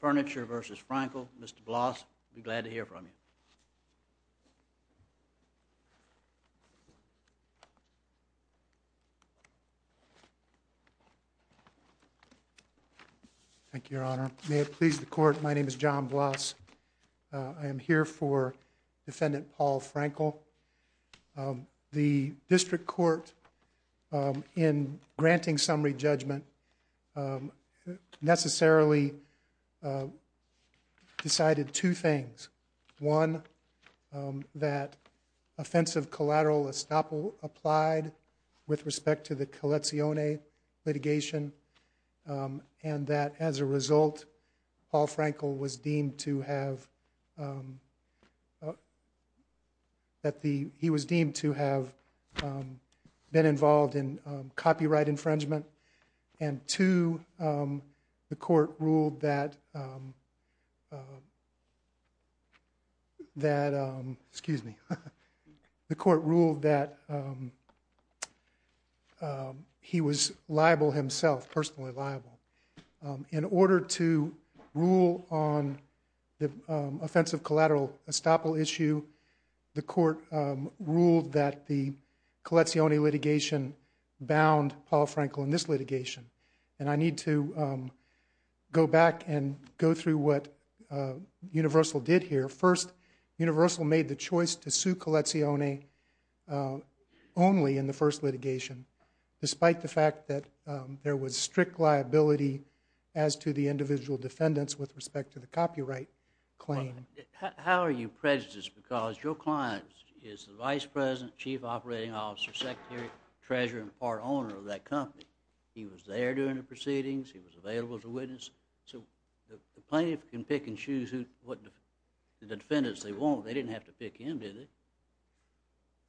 Furniture v. Frankel. Mr. Bloss, glad to hear from you. Thank you, your honor. May it please the court, my name is John Bloss. I am here for defendant Paul Frankel. The district court in granting summary judgment necessarily decided two things. One, that offensive collateral estoppel applied with respect to the Colezioni litigation and that as a result Paul Frankel was deemed to have been involved in copyright infringement and two, the court ruled that he was liable himself, personally liable. In order to rule on the offensive collateral estoppel issue, the court ruled that the Colezioni litigation bound Paul Frankel in this litigation and I need to go back and go through what Universal did here. First, Universal made the choice to sue Colezioni only in the first litigation despite the fact that there was strict liability as to the individual defendants with respect to the copyright claim. How are you prejudiced because your client is the Vice President, Chief Operating Officer, Secretary Treasurer and part owner of that company. He was there during the proceedings, he was available to witness. The plaintiff can pick and choose the defendants they want. They didn't have to pick him, did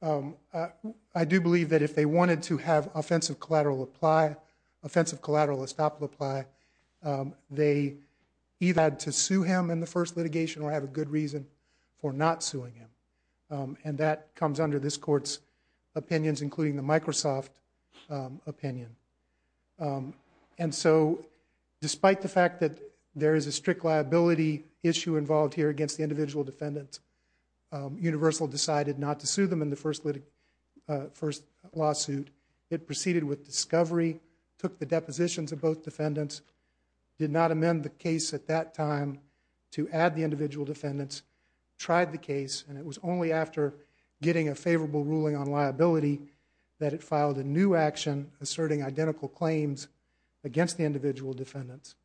they? I do believe that if they wanted to have offensive collateral apply, offensive collateral estoppel apply, they either had to sue him in the first litigation or have a good reason for not suing him. And that comes under this court's including the Microsoft opinion. And so despite the fact that there is a strict liability issue involved here against the individual defendants, Universal decided not to sue them in the first lawsuit. It proceeded with discovery, took the depositions of both defendants, did not amend the case at that time to add the individual defendants, tried the case and it was only after getting a favorable ruling on liability that it filed a new action asserting identical claims against the individual defendants.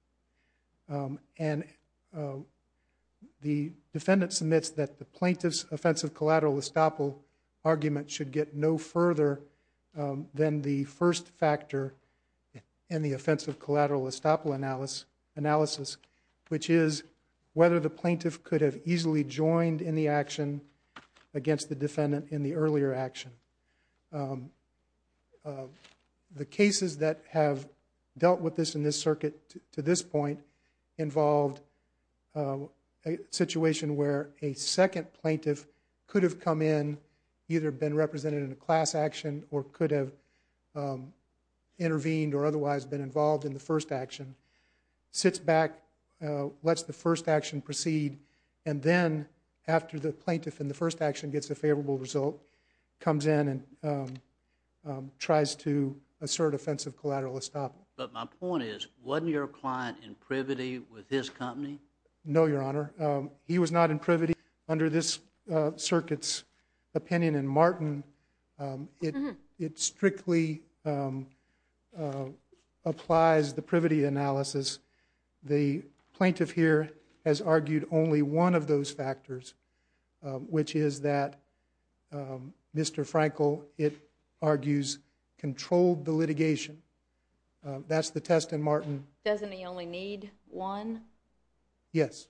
The defendant submits that the plaintiff's offensive collateral estoppel argument should get no further than the first factor in the offensive collateral estoppel analysis, which is whether the plaintiff could have easily joined in the action against the defendant in the earlier action. The cases that have dealt with this in this circuit to this point involved a situation where a second plaintiff could have come in, either been represented in a class action or could have intervened or otherwise been involved in the first action, sits back, lets the first action proceed and then after the plaintiff in the first action gets a favorable result comes in and tries to assert offensive collateral estoppel. But my point is, wasn't your client in privity with his company? No, Your Honor. He was not in privity. Under this circuit's opinion in Martin, it strictly applies the privity analysis. The plaintiff here has argued only one of those factors, which is that Mr. Frankel, it argues, controlled the litigation. That's the test in Martin. Doesn't he only need one? Yes.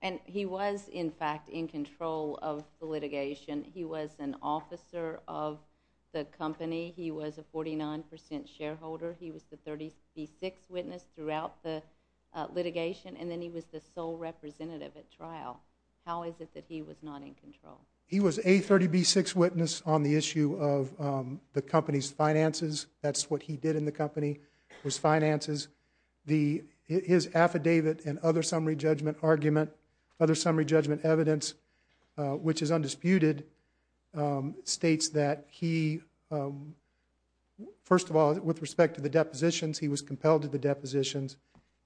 And he was in fact in control of the litigation. He was an officer of the company. He was a 49 percent shareholder. He was the 36th witness throughout the sole representative at trial. How is it that he was not in control? He was a 36th witness on the issue of the company's finances. That's what he did in the company, was finances. His affidavit and other summary judgment argument, other summary judgment evidence, which is undisputed, states that he, first of all, with respect to the depositions, he was compelled to the depositions,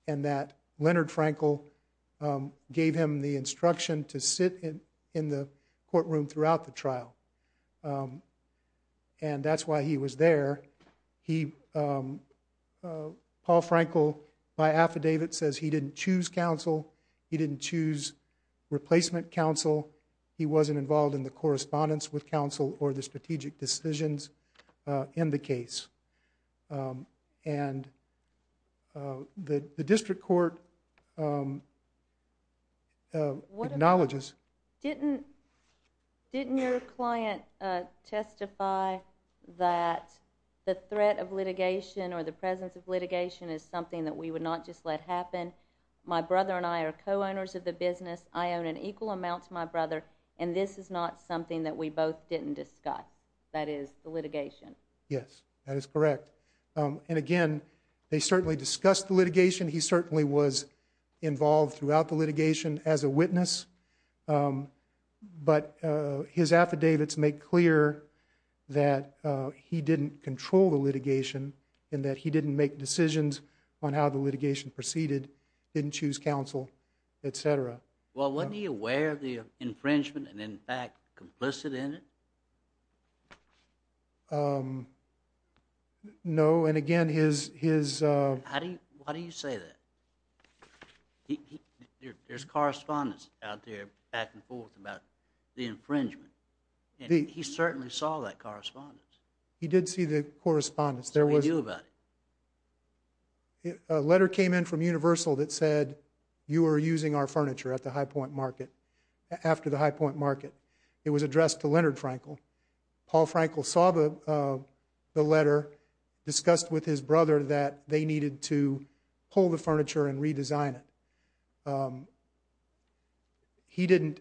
and that Leonard Frankel gave him the instruction to sit in the courtroom throughout the trial. And that's why he was there. Paul Frankel, by affidavit, says he didn't choose counsel. He didn't choose replacement counsel. He wasn't involved in the correspondence with counsel or the strategic decisions in the case. And the district court acknowledges... Didn't your client testify that the threat of litigation or the presence of litigation is something that we would not just let happen? My brother and I are co-owners of the business. I own an equal amount to my brother, and this is not something that we both didn't discuss. That is, the litigation. Yes, that is correct. And again, they certainly discussed the litigation. He certainly was involved throughout the litigation as a witness. But his affidavits make clear that he didn't control the litigation and that he didn't make decisions on how the litigation proceeded, didn't choose counsel, et cetera. Well, wasn't he aware of the infringement and in fact complicit in it? Um... No, and again, his... How do you... Why do you say that? He... There's correspondence out there, back and forth, about the infringement. He certainly saw that correspondence. He did see the correspondence. What did he do about it? A letter came in from Universal that said you were using our furniture at the High Point Market, after the High Point Market. It was addressed to Leonard Frankel. Paul Frankel saw the letter, discussed with his brother that they needed to pull the furniture and redesign it. Um... He didn't...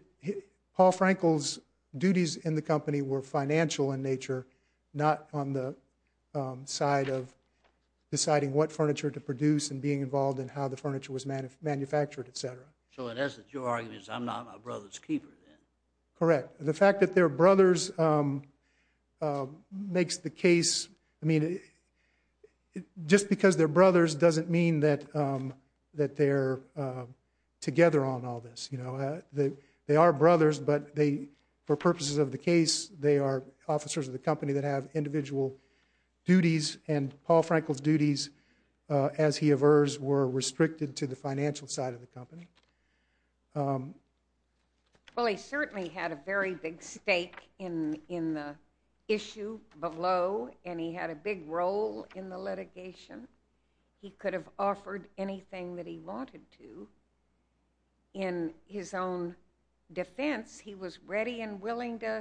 Paul Frankel's duties in the company were financial in nature, not on the side of deciding what furniture to produce and being involved in how the furniture was manufactured, et cetera. So in essence, your argument is I'm not my brother's keeper then? Correct. The fact that they're brothers makes the case... I mean... Just because they're brothers doesn't mean that they're together on all this. You know, they are brothers, but they... For purposes of the case, they are officers of the company that have individual duties, and Paul Frankel's duties as he avers were restricted to the financial side of the company. Um... Well, he certainly had a very big stake in the issue below, and he had a big role in the litigation. He could have offered anything that he wanted to. In his own defense, he was ready and willing to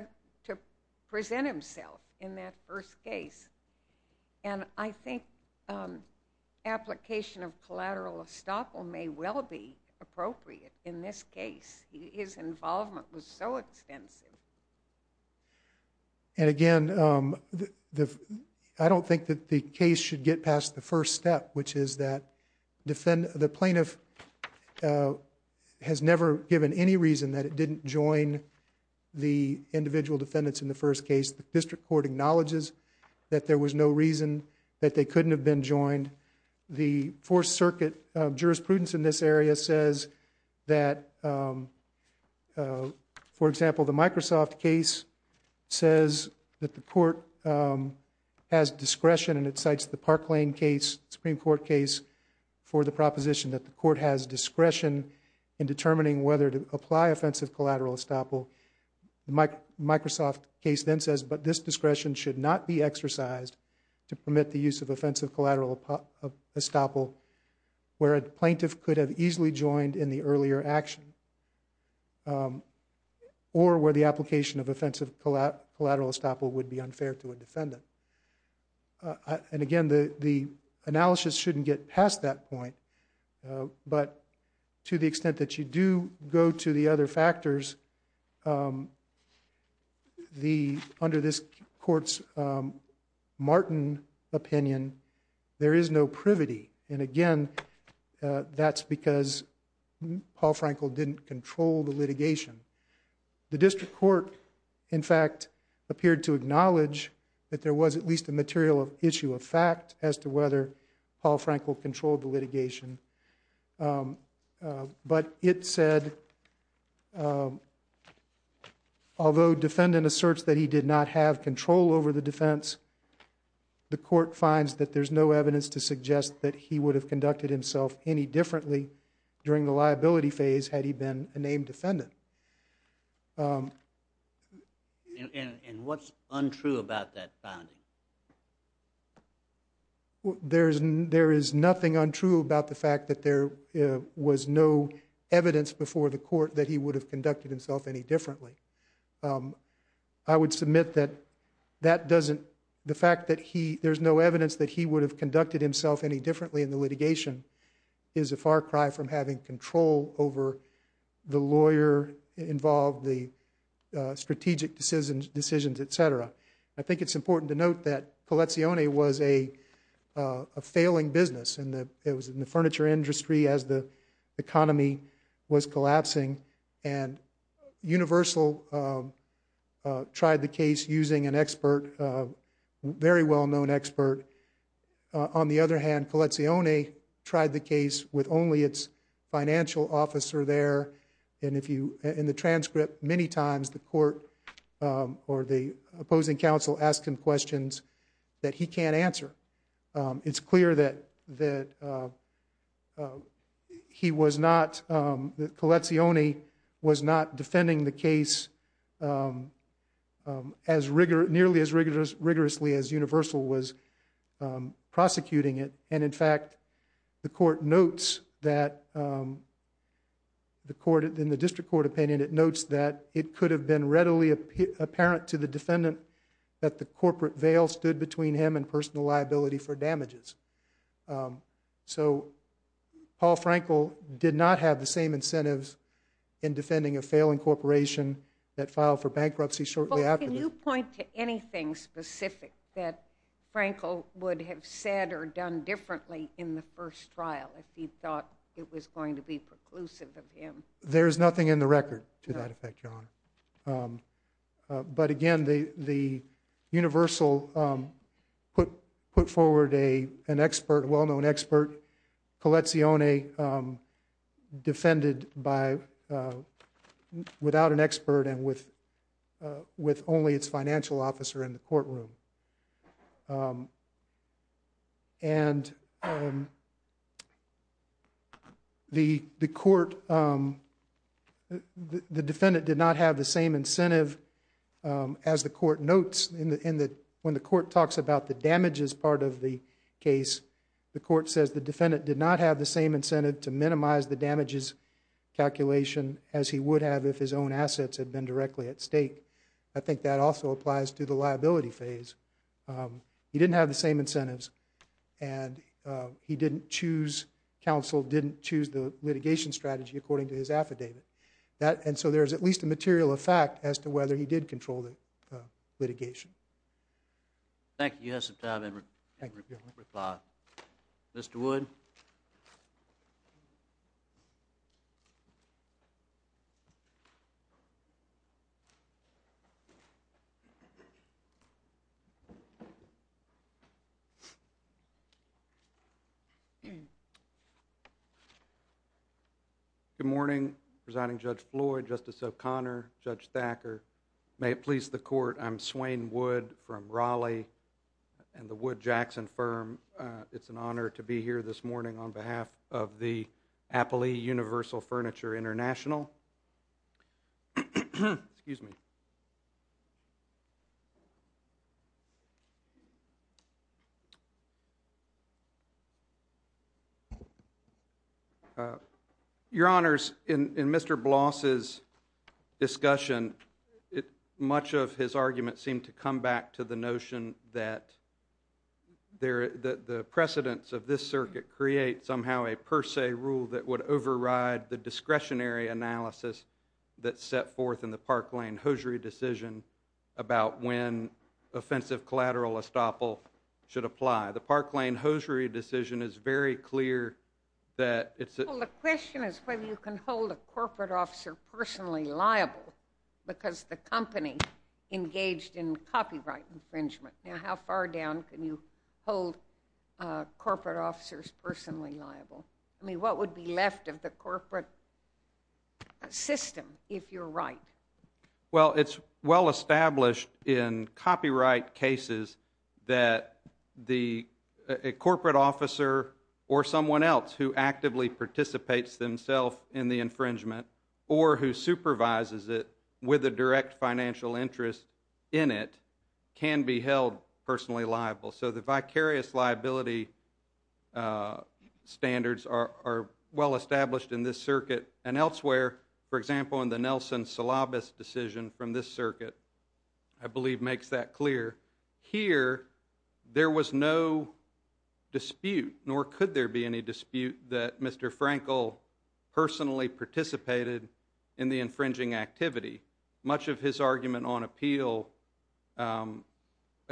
present himself in that first case. And I think application of collateral estoppel may well be appropriate in this case. His involvement was so extensive. And again, um... I don't think that the case should get past the first step, which is that the plaintiff has never given any reason that it didn't join the individual defendants in the first case. The district court acknowledges that there was no reason that they couldn't have been joined. The Fourth Circuit jurisprudence in this area says that, um... For example, the Microsoft case says that the court has discretion, and it cites the Park Lane case, Supreme Court case, for the proposition that the court has discretion in determining whether to apply offensive collateral estoppel. Microsoft case then says, but this discretion should not be exercised to permit the use of offensive collateral estoppel where a plaintiff could have easily joined in the earlier action, or where the application of offensive collateral estoppel would be unfair to a defendant. And again, the analysis shouldn't get past that point. But to the extent that you do go to the other factors, um... the, under this court's Martin opinion, there is no privity. And again, that's because Paul Frankel didn't control the litigation. The district court, in fact, appeared to acknowledge that there was at least a material issue of fact as to whether Paul Frankel controlled the litigation. But it said, um... in the search that he did not have control over the defense, the court finds that there's no evidence to suggest that he would have conducted himself any differently during the liability phase had he been a named defendant. Um... And what's untrue about that finding? There is nothing untrue about the fact that there was no evidence before the court that he would have conducted himself any differently. I would submit that that doesn't... the fact that he... there's no evidence that he would have conducted himself any differently in the litigation is a far cry from having control over the lawyer involved, the strategic decisions, et cetera. I think it's important to note that Colezioni was a failing business. It was in the furniture industry as the economy was collapsing. And Universal tried the case using an expert, a very well-known expert. On the other hand, Colezioni tried the case with only its financial officer there. And in the transcript, many times the court or the opposing counsel asked him questions that he can't answer. It's clear that he was not... that Colezioni was not defending the case nearly as rigorously as Universal was prosecuting it. And in fact, the court notes that... in the district court opinion, it notes that it could have been readily apparent to the defendant that the corporate veil stood between him and personal liability for damages. So Paul Frankel did not have the same incentives in defending a failing corporation that filed for bankruptcy shortly afterwards. Well, can you point to anything specific that Frankel would have said or done differently in the first trial if he thought it was going to be preclusive of him? There is nothing in the record to that effect, Your Honor. But again, Universal put forward an expert, a well-known expert, Colezioni, defended without an expert and with only its financial officer in the courtroom. And the court... the defendant did not have the same incentive as the court notes. When the court talks about the damages part of the case, the court says the defendant did not have the same incentive to minimize the damages calculation had been directly at stake. I think that also applies to the liability phase. He didn't have the same incentives and he didn't choose... counsel didn't choose the litigation strategy according to his affidavit. And so there's at least a material effect as to whether he did control the litigation. Thank you. You have some time to reply. Mr. Wood? Good morning, Presiding Judge Floyd, Justice O'Connor, Judge Thacker. May it please the court, I'm Swain Wood from Raleigh and the Wood Jackson Firm. It's an honor to be here this morning on behalf of the Your Honors, in Mr. Bloss' discussion, much of his argument seemed to come back to the notion that the precedence of this circuit creates somehow a per se rule that would override the discretionary analysis that's set forth in the Park Lane Hosiery decision about when offensive collateral estoppel should apply. The Park Lane Hosiery decision is very clear that it's... Well, the question is whether you can hold a corporate officer personally liable because the company engaged in copyright infringement. Now, how far down can you hold corporate officers personally liable? I mean, what would be left of the corporate system, if you're right? Well, it's well established in copyright cases that a corporate officer or someone else who actively participates themselves in the infringement or who supervises it with a direct financial interest in it can be held personally liable. So the vicarious liability standards are well established in this circuit. And elsewhere, for example, in the Nelson-Salabas decision from this circuit, I believe makes that clear, here there was no dispute, nor could there be any dispute, that Mr. Frankel personally participated in the infringing activity. Much of his argument on appeal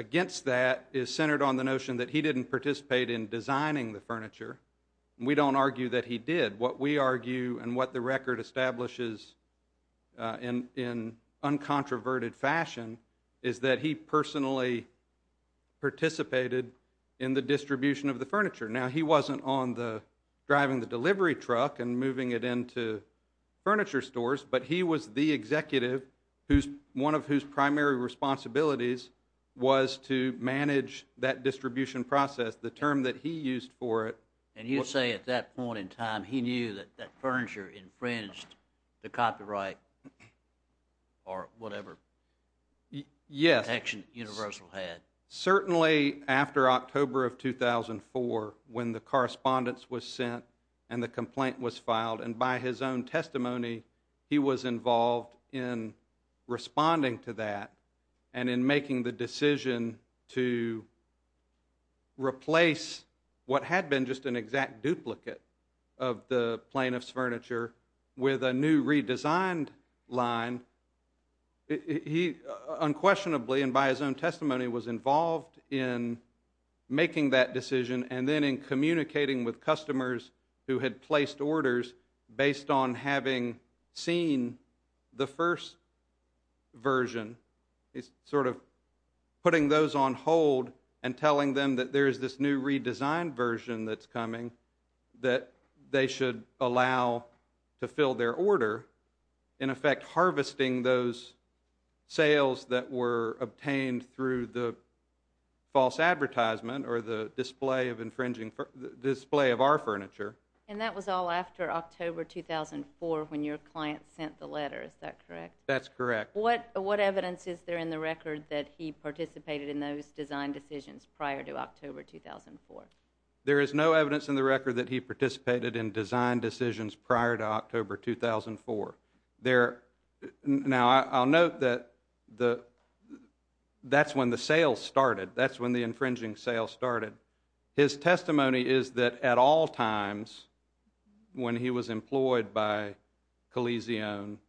against that is centered on the notion that he didn't participate in designing the furniture. We don't argue that he did. What we argue and what the record establishes in uncontroverted fashion is that he personally participated in the distribution of the furniture. Now, he wasn't driving the delivery truck and moving it into furniture stores, but he was the executive, one of whose primary responsibilities was to manage that distribution process. The term that he used for it... And you say at that point in time he knew that that furniture infringed the copyright or whatever action Universal had. Certainly after October of 2004 when the correspondence was sent and the complaint was filed, and by his own testimony, he was involved in responding to that and in making the decision to replace what had been just an exact duplicate of the plaintiff's furniture with a new redesigned line, he unquestionably and by his own testimony was involved in making that decision and then in communicating with customers who had placed orders based on having seen the first version. He's sort of putting those on hold and telling them that there is this new redesigned version that's coming that they should allow to fill their order, in effect harvesting those sales that were obtained through the false advertisement or the display of our furniture. And that was all after October 2004 when your client sent the letter, is that correct? That's correct. What evidence is there in the record that he participated in those design decisions prior to October 2004? There is no evidence in the record that he participated in design decisions prior to October 2004. Now, I'll note that that's when the sales started. That's when the infringing sales started. His testimony is that at all times when he was employed by Coliseum,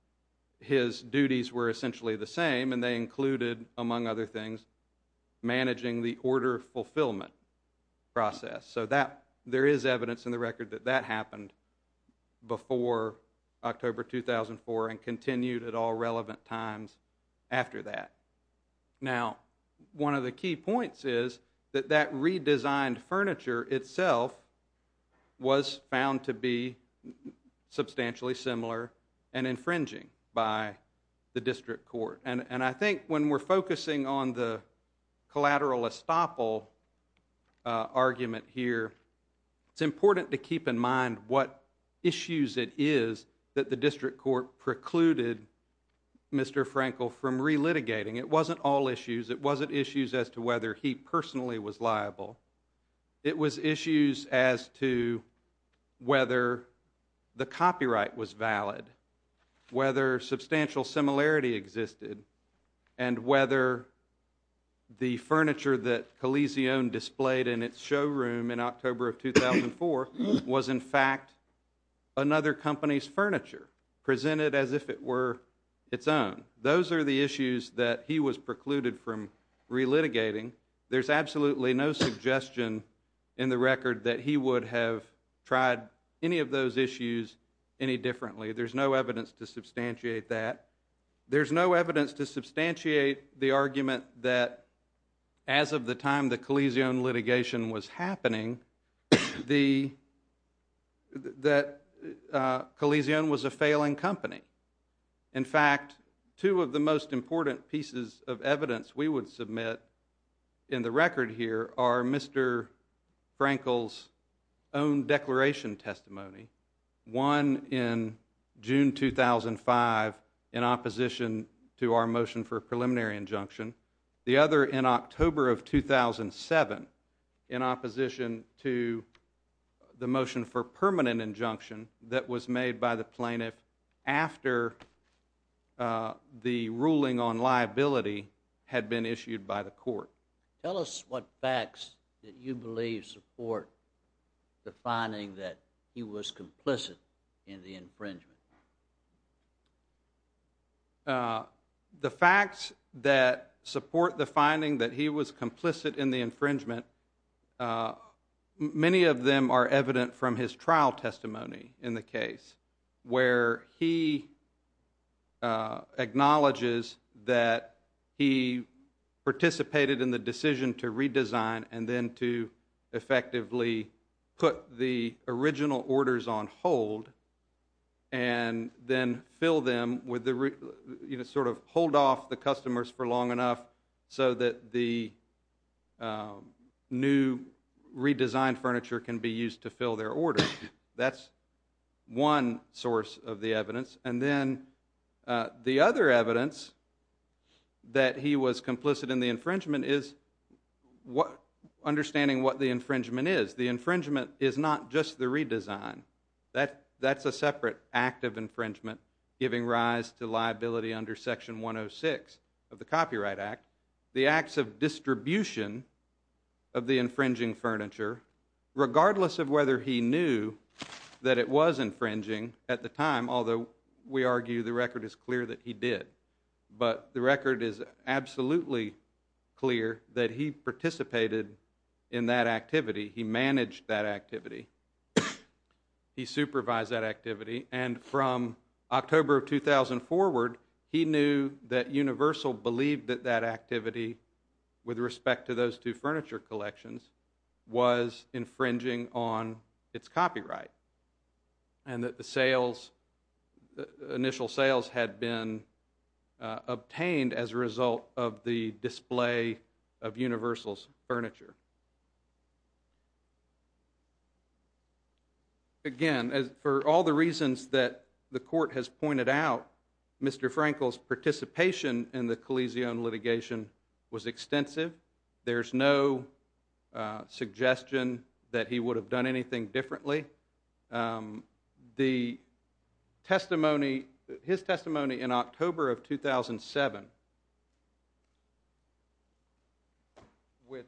his duties were essentially the same and they included among other things managing the order fulfillment process. So there is evidence in the record that that happened before October 2004 and continued at all relevant times after that. Now, one of the key points is that that redesigned furniture itself was found to be substantially similar and infringing by the District Court. And I think when we're focusing on the collateral estoppel argument here, it's important to keep in mind what issues it is that the District Court precluded Mr. Frankel from relitigating. It wasn't all issues. It wasn't issues as to whether he personally was liable. It was issues as to whether the copyright was valid, whether substantial similarity existed, and whether the furniture that Coliseum displayed in its showroom in October of 2004 was in fact another company's furniture, presented as if it were its own. Those are the issues that he was precluded from relitigating. There's absolutely no suggestion in the record that he would have tried any of those issues any differently. There's no evidence to substantiate that. There's no evidence to substantiate the argument that as of the time the Coliseum litigation was happening, that Coliseum was a failing company. In fact, two of the most important pieces of evidence we would submit in the record here are Mr. Frankel's own declaration testimony, one in June 2005, in opposition to our motion for a preliminary injunction, the other in October of 2007, in opposition to the motion for permanent injunction that was made by the plaintiff after the ruling on liability had been issued by the court. Tell us what facts that you believe support the finding that he was complicit in the infringement. The facts that support the finding that he was complicit in the infringement, many of them are evident from his trial testimony in the case where he acknowledges that he participated in the decision to redesign and then to effectively put the original orders on hold and then fill them with the, sort of hold off the customers for long enough so that the new redesigned furniture can be used to fill their order. That's one source of the evidence. And then the other evidence that he was complicit in the infringement is understanding what the infringement is. The infringement is not just the redesign. That's a separate act of infringement giving rise to liability under Section 106 of the Copyright Act, the acts of distribution of the infringing furniture, regardless of whether he knew that it was infringing at the time, although we argue the record is clear that he did. But the record is absolutely clear that he participated in that activity. He managed that activity. He supervised that activity. And from October of 2004, he knew that Universal believed that that activity, with respect to those two furniture collections, was infringing on its copyright and that the initial sales had been obtained as a result of the display of Universal's furniture. Again, for all the reasons that the Court has pointed out, Mr. Frankel's participation in the Coliseum litigation was extensive. There's no suggestion that he would have done anything differently. The testimony, his testimony in October of 2007, which is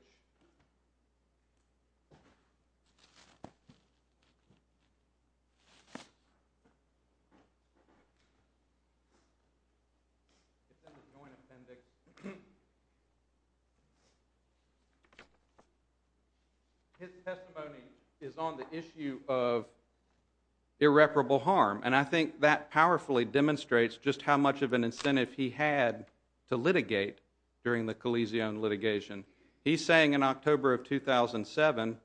in the Joint Appendix, his testimony is on the issue of irreparable harm. And I think that powerfully demonstrates just how much of an incentive he had to litigate during the Coliseum litigation. He's saying in October of 2007,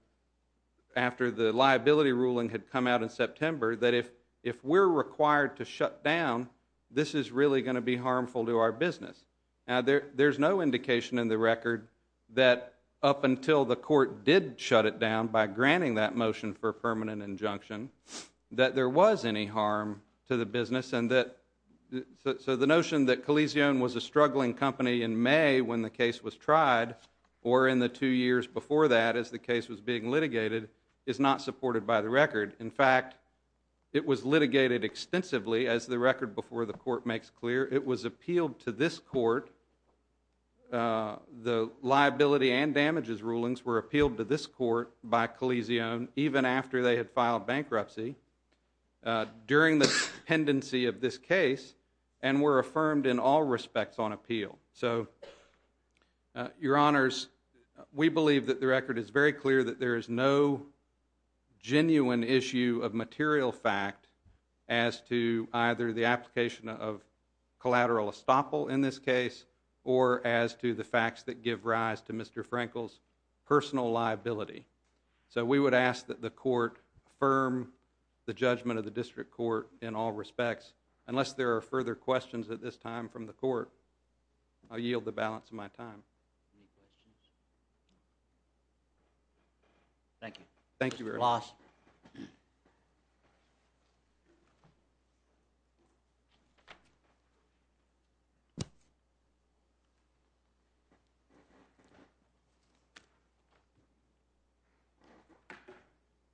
after the liability ruling had come out in September, that if we're required to shut down, this is really going to be harmful to our business. Now, there's no indication in the record that up until the Court did shut it down by granting that motion for permanent injunction that there was any harm to the business and that the notion that Coliseum was a struggling company in May when the case was tried or in the two years before that as the case was being litigated is not supported by the record. In fact, it was litigated extensively, as the record before the Court makes clear. It was appealed to this Court. The liability and damages rulings were appealed to this Court by Coliseum even after they had filed bankruptcy during the pendency of this case and were affirmed in all respects on appeal. So, Your Honors, we believe that the record is very clear that there is no genuine issue of material fact as to either the application of collateral estoppel in this case or as to the facts that give rise to Mr. Frankel's personal liability. So we would ask that the Court affirm the judgment of the District Court in all respects. Unless there are further questions at this time from the Court, I yield the balance of my time. Any questions? Thank you. Thank you very much.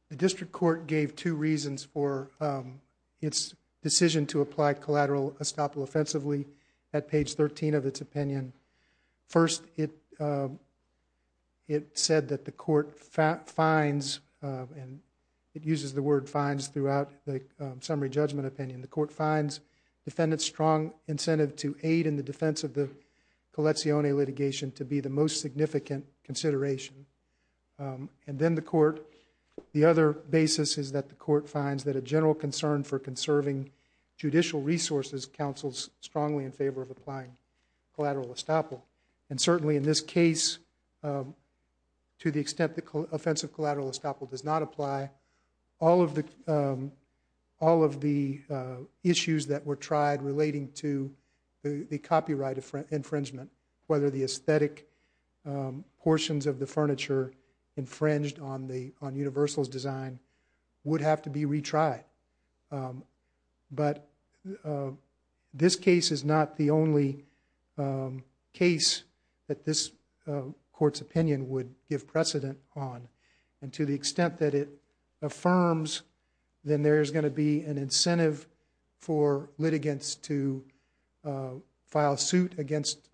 The District Court gave two reasons for its decision to apply collateral estoppel offensively at page 13 of its opinion. First, it said that the Court finds, and it uses the word finds throughout the summary judgment opinion, the Court finds defendants' strong incentive to aid in the defense of the Colezioni litigation to be the most significant consideration. And then the Court, the other basis is that the Court finds that a general concern for conserving judicial resources counsels strongly in favor of applying collateral estoppel. And certainly in this case, to the extent that offensive collateral estoppel does not apply, all of the issues that were tried relating to the copyright infringement, whether the aesthetic portions of the furniture infringed on Universal's design would have to be retried. But this case is not the only case that this Court's opinion would give precedent on. And to the extent that it affirms that there's going to be an incentive for litigants to file suit against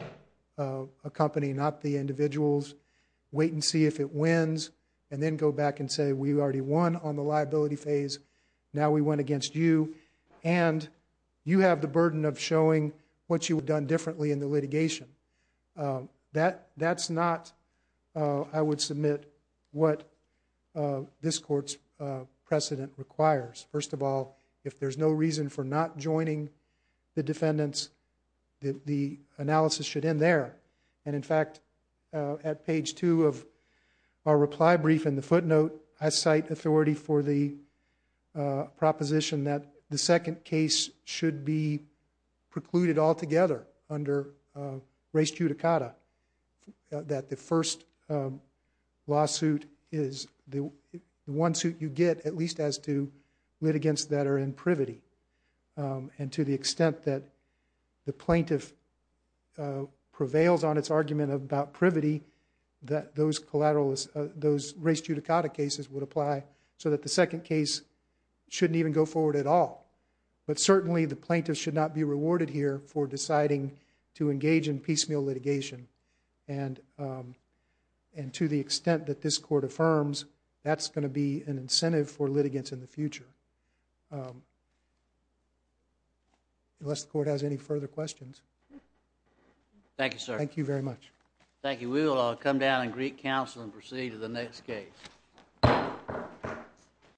a company, not the individuals, wait and see if it wins, and then go back and say, we already won on the liability phase, now we went against you, and you have the burden of showing what you would have done differently in the litigation. That's not, I would submit, what this Court's precedent requires. First of all, if there's no reason for not joining the defendants, the analysis should end there. And in fact, at page 2 of our reply brief in the footnote, I cite authority for the proposition that the second case should be precluded altogether under res judicata, that the first lawsuit is the one suit you get, at least as to litigants that are in privity. And to the extent that the plaintiff prevails on its argument about privity, those res judicata cases would apply so that the second case shouldn't even go forward at all. But certainly the plaintiff should not be rewarded here for deciding to engage in piecemeal litigation. And to the extent that this Court affirms that's going to be an incentive for litigants in the future. Unless the Court has any further questions. Thank you, sir. Thank you very much. Thank you. We will come down in Greek Council and proceed to the next case.